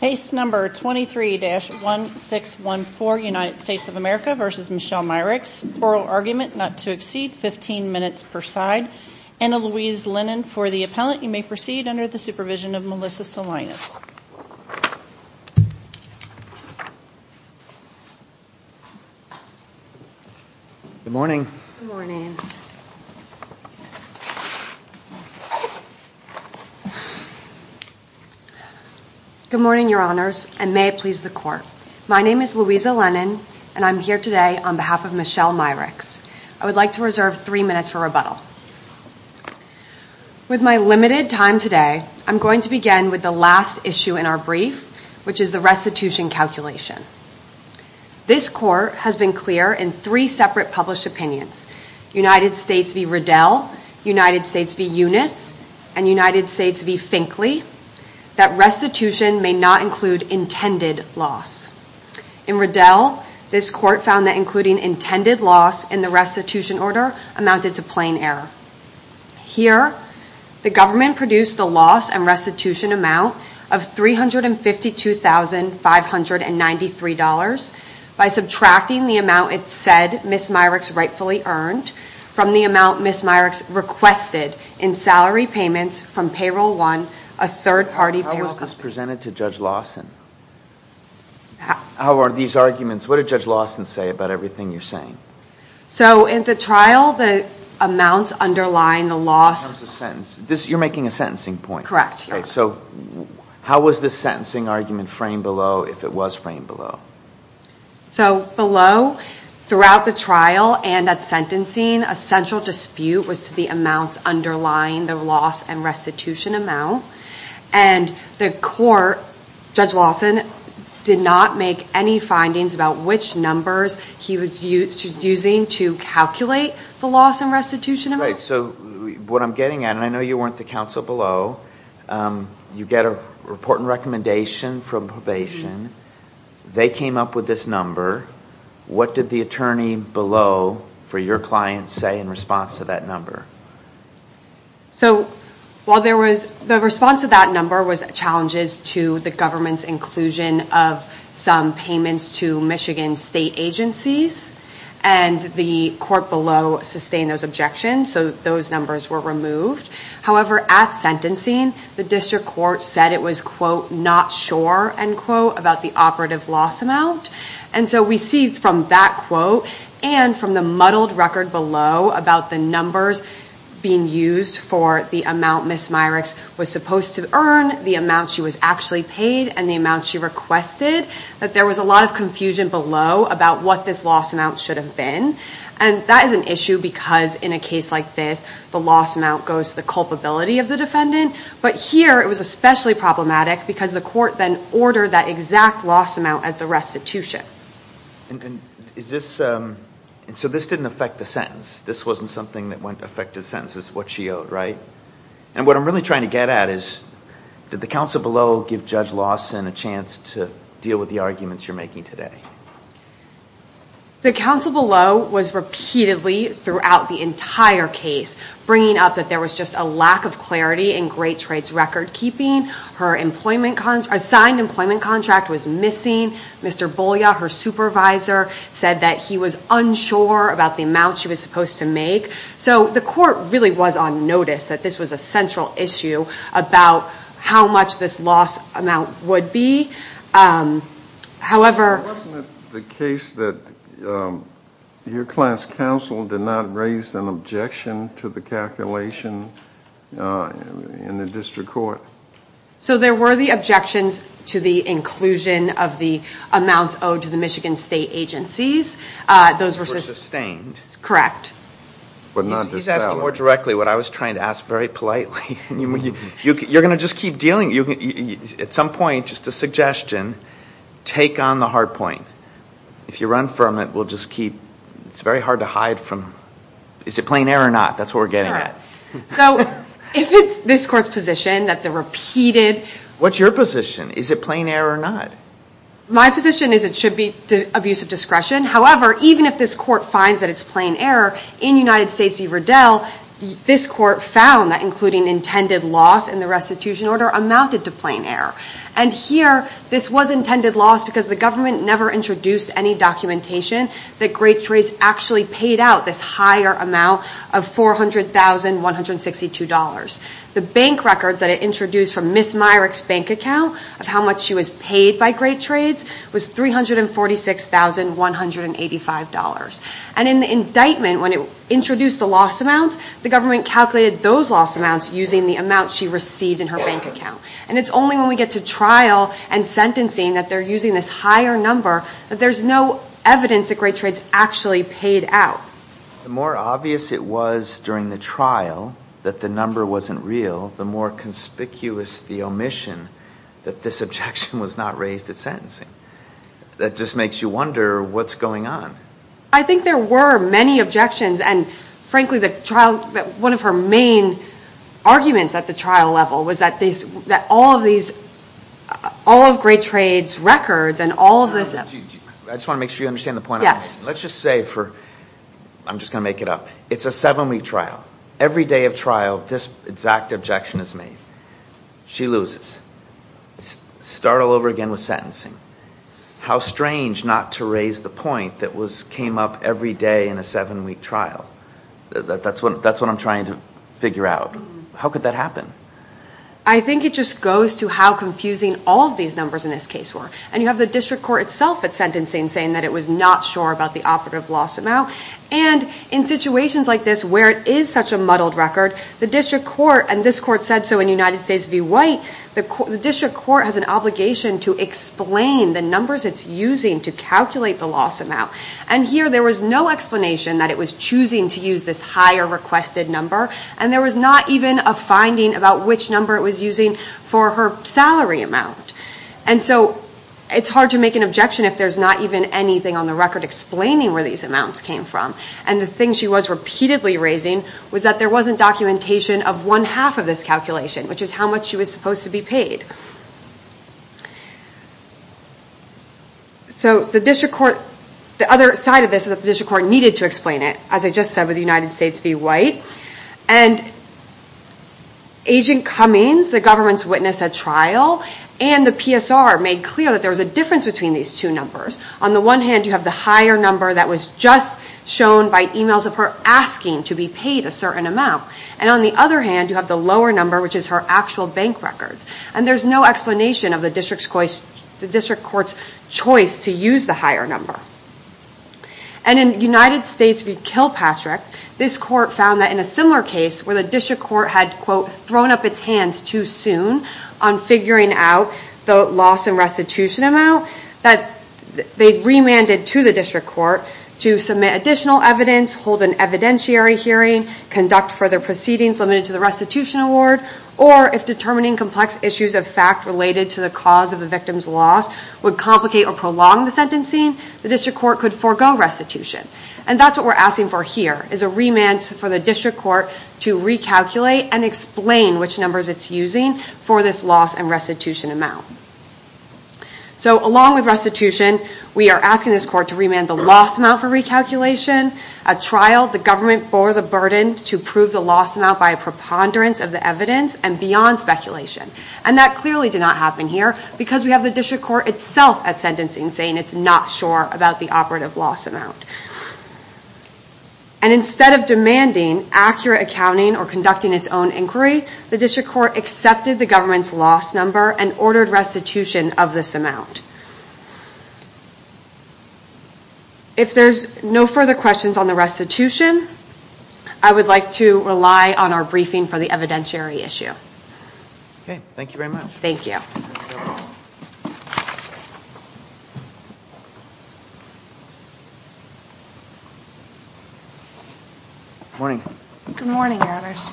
Oral argument not to exceed 15 minutes per side. Anna Louise Lennon for the appellant. You may proceed under the supervision of Melissa Salinas. Good morning. Good morning. Good morning, your honors, and may it please the court. My name is Louisa Lennon, and I'm here today on behalf of Michelle Myricks. I would like to reserve three minutes for rebuttal. With my limited time today, I'm going to begin with the last issue in our brief, which is the restitution calculation. This court has been clear in three separate published opinions, United States v. Riddell, United States v. Eunice, and United States v. Finkley, that restitution may not include intended loss. In Riddell, this court found that including intended loss in the restitution order amounted to plain error. Here, the government produced a loss and restitution amount of $352,593 by subtracting the amount it said Ms. Myricks rightfully earned from the amount Ms. Myricks requested in salary payments from Payroll One, a third-party payroll company. How is this presented to Judge Lawson? What did Judge Lawson say about everything you're saying? In the trial, the amounts underlying the loss... You're making a sentencing point. Correct. How was this sentencing argument framed below if it was framed below? Below, throughout the trial and at sentencing, a central dispute was the amounts underlying the loss and restitution amount. The court, Judge Lawson, did not make any findings about which numbers he was using to calculate the loss and restitution amount. What I'm getting at, and I know you weren't the counsel below, you get a report and recommendation from probation. They came up with this number. What did the attorney below for your client say in response to that number? The response to that number was challenges to the government's inclusion of some payments to Michigan state agencies. The court below sustained those objections, so those numbers were removed. However, at sentencing, the district court said it was, quote, not sure, end quote, about the operative loss amount. We see from that quote and from the muddled record below about the numbers being used for the amount Ms. Myricks was supposed to earn, the amount she was actually paid, and the amount she requested, that there was a lot of confusion below about what this loss amount should have been. That is an issue because in a case like this, the loss amount goes to the culpability of the defendant. But here, it was especially problematic because the court then ordered that exact loss amount as the restitution. So this didn't affect the sentence. This wasn't something that went to affect the sentence. This is what she owed, right? And what I'm really trying to get at is, did the counsel below give Judge Lawson a chance to deal with the arguments you're making today? The counsel below was repeatedly, throughout the entire case, bringing up that there was just a lack of clarity in Great Trades record keeping. Her signed employment contract was missing. Mr. Bolya, her supervisor, said that he was unsure about the amount she was supposed to make. So the court really was on notice that this was a central issue about how much this loss amount would be. However... Wasn't it the case that your client's counsel did not raise an objection to the calculation in the district court? So there were the objections to the inclusion of the amount owed to the Michigan State agencies. Those were sustained. Correct. He's asking more directly what I was trying to ask very politely. You're going to just keep dealing. At some point, just a suggestion, take on the hard point. If you run from it, we'll just keep... It's very hard to hide from... Is it plain error or not? That's what we're getting at. So if it's this court's position that the repeated... What's your position? Is it plain error or not? My position is it should be abuse of discretion. However, even if this court finds that it's plain error, in United States v. Riddell, this court found that including intended loss in the restitution order amounted to plain error. And here, this was intended loss because the government never introduced any documentation that Great Trades actually paid out this higher amount of $400,162. The bank records that it introduced from Ms. Myrick's bank account of how much she was paid by Great Trades was $346,185. And in the indictment, when it introduced the loss amount, the government calculated those loss amounts using the amount she received in her bank account. And it's only when we get to trial and sentencing that they're using this higher number that there's no evidence that Great Trades actually paid out. The more obvious it was during the trial that the number wasn't real, the more conspicuous the omission that this objection was not raised at sentencing. That just makes you wonder what's going on. I think there were many objections. And frankly, one of her main arguments at the trial level was that all of Great Trades' records and all of this... I just want to make sure you understand the point I'm making. Yes. Let's just say for... I'm just going to make it up. It's a seven-week trial. Every day of trial, this exact objection is made. She loses. Start all over again with sentencing. How strange not to raise the point that came up every day in a seven-week trial. That's what I'm trying to figure out. How could that happen? I think it just goes to how confusing all of these numbers in this case were. And you have the district court itself at sentencing saying that it was not sure about the operative loss amount. And in situations like this where it is such a muddled record, the district court... And this court said so in United States v. White. The district court has an obligation to explain the numbers it's using to calculate the loss amount. And here there was no explanation that it was choosing to use this higher requested number. And there was not even a finding about which number it was using for her salary amount. And so it's hard to make an objection if there's not even anything on the record explaining where these amounts came from. And the thing she was repeatedly raising was that there wasn't documentation of one half of this calculation, which is how much she was supposed to be paid. So the district court... The other side of this is that the district court needed to explain it, as I just said, with United States v. White. And Agent Cummings, the government's witness at trial, and the PSR made clear that there was a difference between these two numbers. On the one hand, you have the higher number that was just shown by emails of her asking to be paid a certain amount. And on the other hand, you have the lower number, which is her actual bank records. And there's no explanation of the district court's choice to use the higher number. And in United States v. Kilpatrick, this court found that in a similar case, where the district court had, quote, thrown up its hands too soon on figuring out the loss and restitution amount, that they remanded to the district court to submit additional evidence, hold an evidentiary hearing, conduct further proceedings limited to the restitution award, or if determining complex issues of fact related to the cause of the victim's loss would complicate or prolong the sentencing, the district court could forego restitution. And that's what we're asking for here, is a remand for the district court to recalculate and explain which numbers it's using for this loss and restitution amount. So along with restitution, we are asking this court to remand the loss amount for recalculation. At trial, the government bore the burden to prove the loss amount by a preponderance of the evidence and beyond speculation. And that clearly did not happen here because we have the district court itself at sentencing saying it's not sure about the operative loss amount. And instead of demanding accurate accounting or conducting its own inquiry, the district court accepted the government's loss number and ordered restitution of this amount. If there's no further questions on the restitution, I would like to rely on our briefing for the evidentiary issue. Okay. Thank you very much. Thank you. Good morning. Good morning, Your Honors.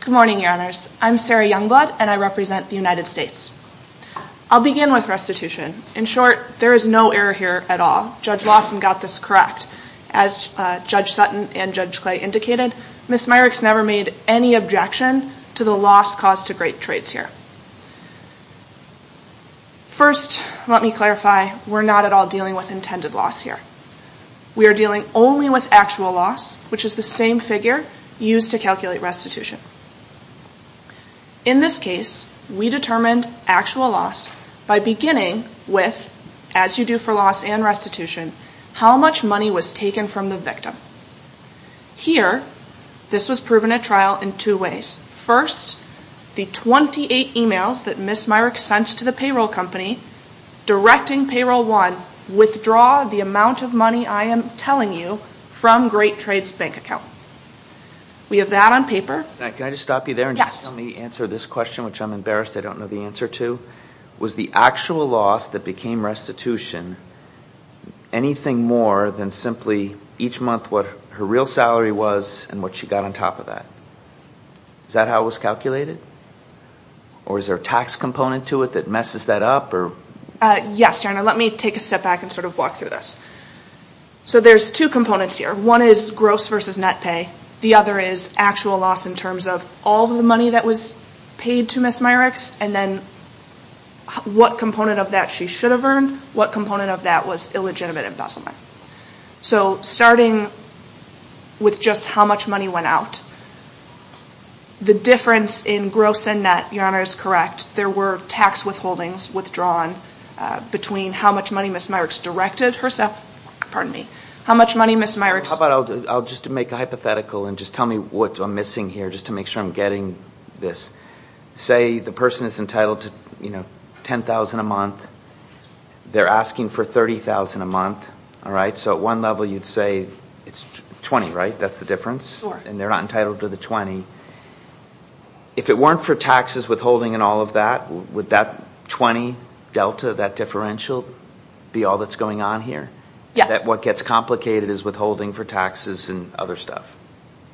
Good morning, Your Honors. I'm Sarah Youngblood, and I represent the United States. I'll begin with restitution. In short, there is no error here at all. Judge Lawson got this correct. As Judge Sutton and Judge Clay indicated, Ms. Myrick's never made any objection to the loss caused to great traits here. First, let me clarify, we're not at all dealing with intended loss here. We are dealing only with actual loss, which is the same figure used to calculate restitution. In this case, we determined actual loss by beginning with, as you do for loss and restitution, how much money was taken from the victim. Here, this was proven at trial in two ways. First, the 28 emails that Ms. Myrick sent to the payroll company directing payroll one, withdraw the amount of money I am telling you from great traits bank account. We have that on paper. Can I just stop you there? Yes. Let me answer this question, which I'm embarrassed I don't know the answer to. Was the actual loss that became restitution anything more than simply each month what her real salary was and what she got on top of that? Is that how it was calculated? Or is there a tax component to it that messes that up? Yes. Let me take a step back and sort of walk through this. There's two components here. One is gross versus net pay. The other is actual loss in terms of all the money that was paid to Ms. Myrick's and then what component of that she should have earned, what component of that was illegitimate embezzlement. So starting with just how much money went out, the difference in gross and net, Your Honor is correct, there were tax withholdings withdrawn between how much money Ms. Myrick's directed herself, pardon me, how much money Ms. Myrick's How about I'll just make a hypothetical and just tell me what I'm missing here just to make sure I'm getting this. Say the person is entitled to $10,000 a month. They're asking for $30,000 a month. So at one level you'd say it's $20,000, right? That's the difference? Sure. And they're not entitled to the $20,000. If it weren't for taxes, withholding and all of that, would that $20,000 delta, that differential, be all that's going on here? Yes. That what gets complicated is withholding for taxes and other stuff.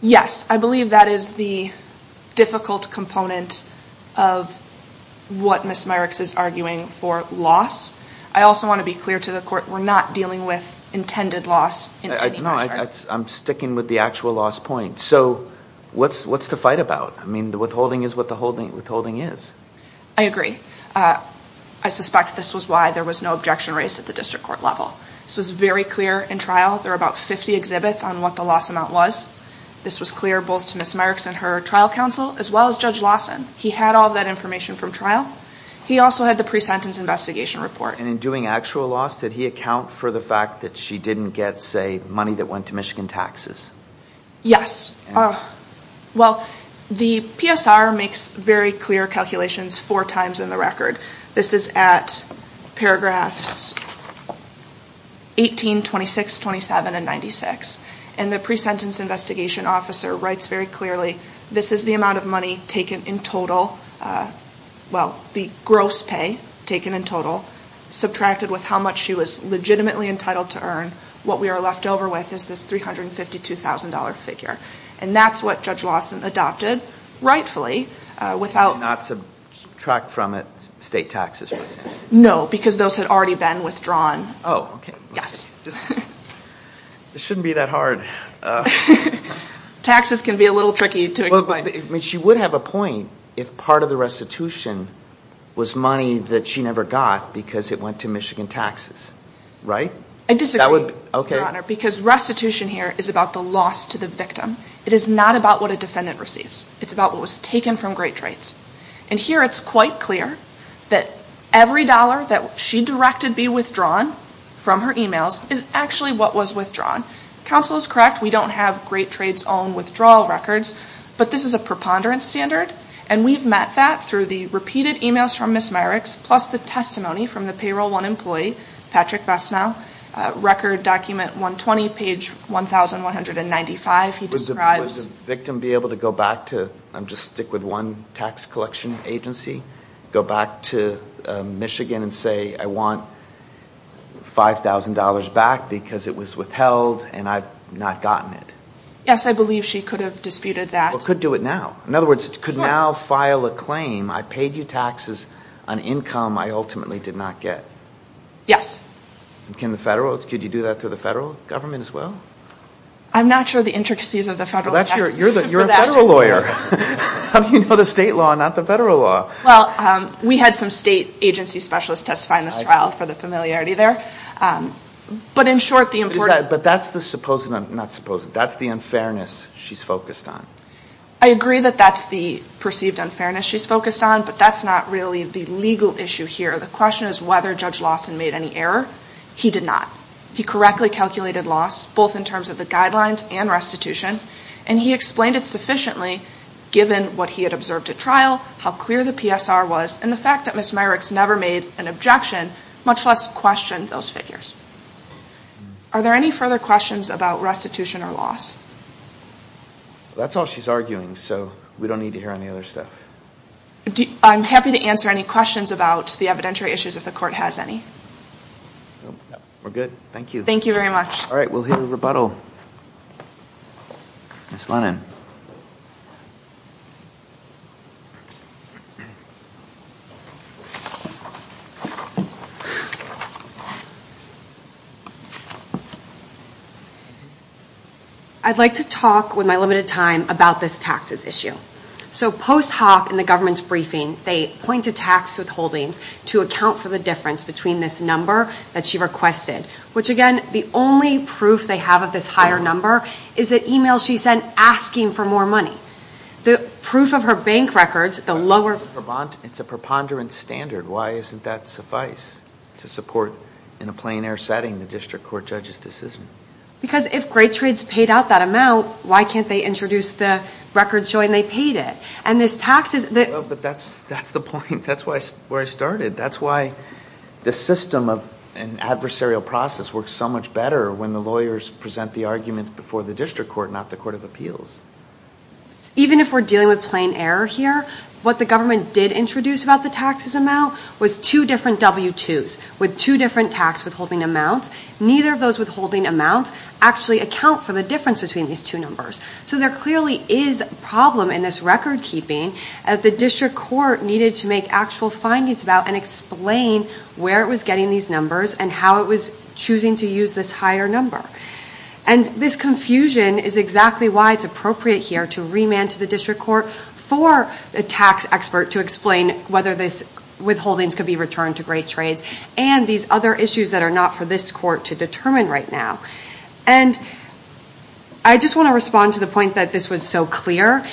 Yes. I believe that is the difficult component of what Ms. Myrick's is arguing for loss. I also want to be clear to the court, we're not dealing with intended loss in any measure. I'm sticking with the actual loss point. So what's the fight about? I mean, the withholding is what the withholding is. I agree. I suspect this was why there was no objection raised at the district court level. This was very clear in trial. There were about 50 exhibits on what the loss amount was. This was clear both to Ms. Myrick's and her trial counsel as well as Judge Lawson. He had all that information from trial. He also had the pre-sentence investigation report. And in doing actual loss, did he account for the fact that she didn't get, say, money that went to Michigan taxes? Yes. Well, the PSR makes very clear calculations four times in the record. This is at paragraphs 18, 26, 27, and 96. And the pre-sentence investigation officer writes very clearly, this is the amount of money taken in total, well, the gross pay taken in total, subtracted with how much she was legitimately entitled to earn. What we are left over with is this $352,000 figure. And that's what Judge Lawson adopted rightfully. Did she not subtract from it state taxes, for example? No, because those had already been withdrawn. Oh, okay. Yes. This shouldn't be that hard. Taxes can be a little tricky to explain. She would have a point if part of the restitution was money that she never got because it went to Michigan taxes, right? I disagree, Your Honor, because restitution here is about the loss to the victim. It is not about what a defendant receives. It's about what was taken from Great Trades. And here it's quite clear that every dollar that she directed be withdrawn from her e-mails is actually what was withdrawn. Counsel is correct. We don't have Great Trades' own withdrawal records, but this is a preponderance standard, and we've met that through the repeated e-mails from Ms. Myrick's plus the testimony from the Payroll 1 employee, Patrick Bessnow, Record Document 120, page 1,195. Would the victim be able to go back to, just stick with one tax collection agency, go back to Michigan and say, I want $5,000 back because it was withheld and I've not gotten it? Yes, I believe she could have disputed that. Or could do it now. In other words, could now file a claim, I paid you taxes on income I ultimately did not get? Yes. Could you do that through the federal government as well? I'm not sure the intricacies of the federal tax. You're a federal lawyer. How do you know the state law and not the federal law? Well, we had some state agency specialists testify in this trial for the familiarity there. But in short, the important. But that's the supposed, not supposed, that's the unfairness she's focused on. I agree that that's the perceived unfairness she's focused on, but that's not really the legal issue here. The question is whether Judge Lawson made any error. He did not. He correctly calculated loss, both in terms of the guidelines and restitution, and he explained it sufficiently given what he had observed at trial, how clear the PSR was, and the fact that Ms. Myrick's never made an objection, much less questioned those figures. Are there any further questions about restitution or loss? That's all she's arguing, so we don't need to hear any other stuff. I'm happy to answer any questions about the evidentiary issues if the Court has any. We're good. Thank you. Thank you very much. All right. We'll hear the rebuttal. Ms. Lennon. I'd like to talk with my limited time about this taxes issue. So post hoc in the government's briefing, they point to tax withholdings to account for the difference between this number that she requested, which, again, the only proof they have of this higher number is the e-mail she sent asking for more money. The proof of her bank records, the lower – It's a preponderance standard. Why isn't that suffice to support, in a plein air setting, the District Court judge's decision? Because if Great Trades paid out that amount, why can't they introduce the record showing they paid it? And this taxes – Well, but that's the point. That's where I started. That's why the system of an adversarial process works so much better when the lawyers present the arguments before the District Court, not the Court of Appeals. Even if we're dealing with plein air here, what the government did introduce about the taxes amount was two different W-2s with two different tax withholding amounts. Neither of those withholding amounts actually account for the difference between these two numbers. So there clearly is a problem in this record keeping that the District Court needed to make actual findings about and explain where it was getting these numbers and how it was choosing to use this higher number. And this confusion is exactly why it's appropriate here to remand to the District Court for a tax expert to explain whether these withholdings could be returned to Great Trades and these other issues that are not for this court to determine right now. And I just want to respond to the point that this was so clear.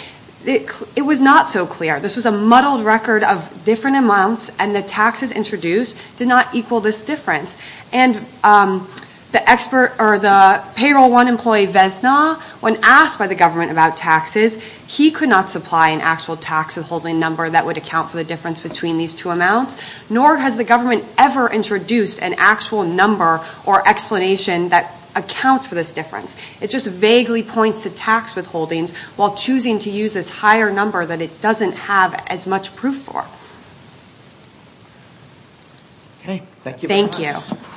It was not so clear. This was a muddled record of different amounts, and the taxes introduced did not equal this difference. And the payroll one employee, Vesna, when asked by the government about taxes, he could not supply an actual tax withholding number that would account for the difference between these two amounts, nor has the government ever introduced an actual number or explanation that accounts for this difference. It just vaguely points to tax withholdings while choosing to use this higher number that it doesn't have as much proof for. Okay. Thank you very much.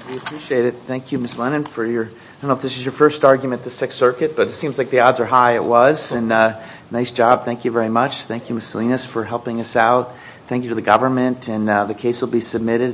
We appreciate it. Thank you, Ms. Lennon, for your, I don't know if this is your first argument at the Sixth Circuit, but it seems like the odds are high it was, and nice job. Thank you very much. Thank you, Ms. Salinas, for helping us out. Thank you to the government, and the case will be submitted.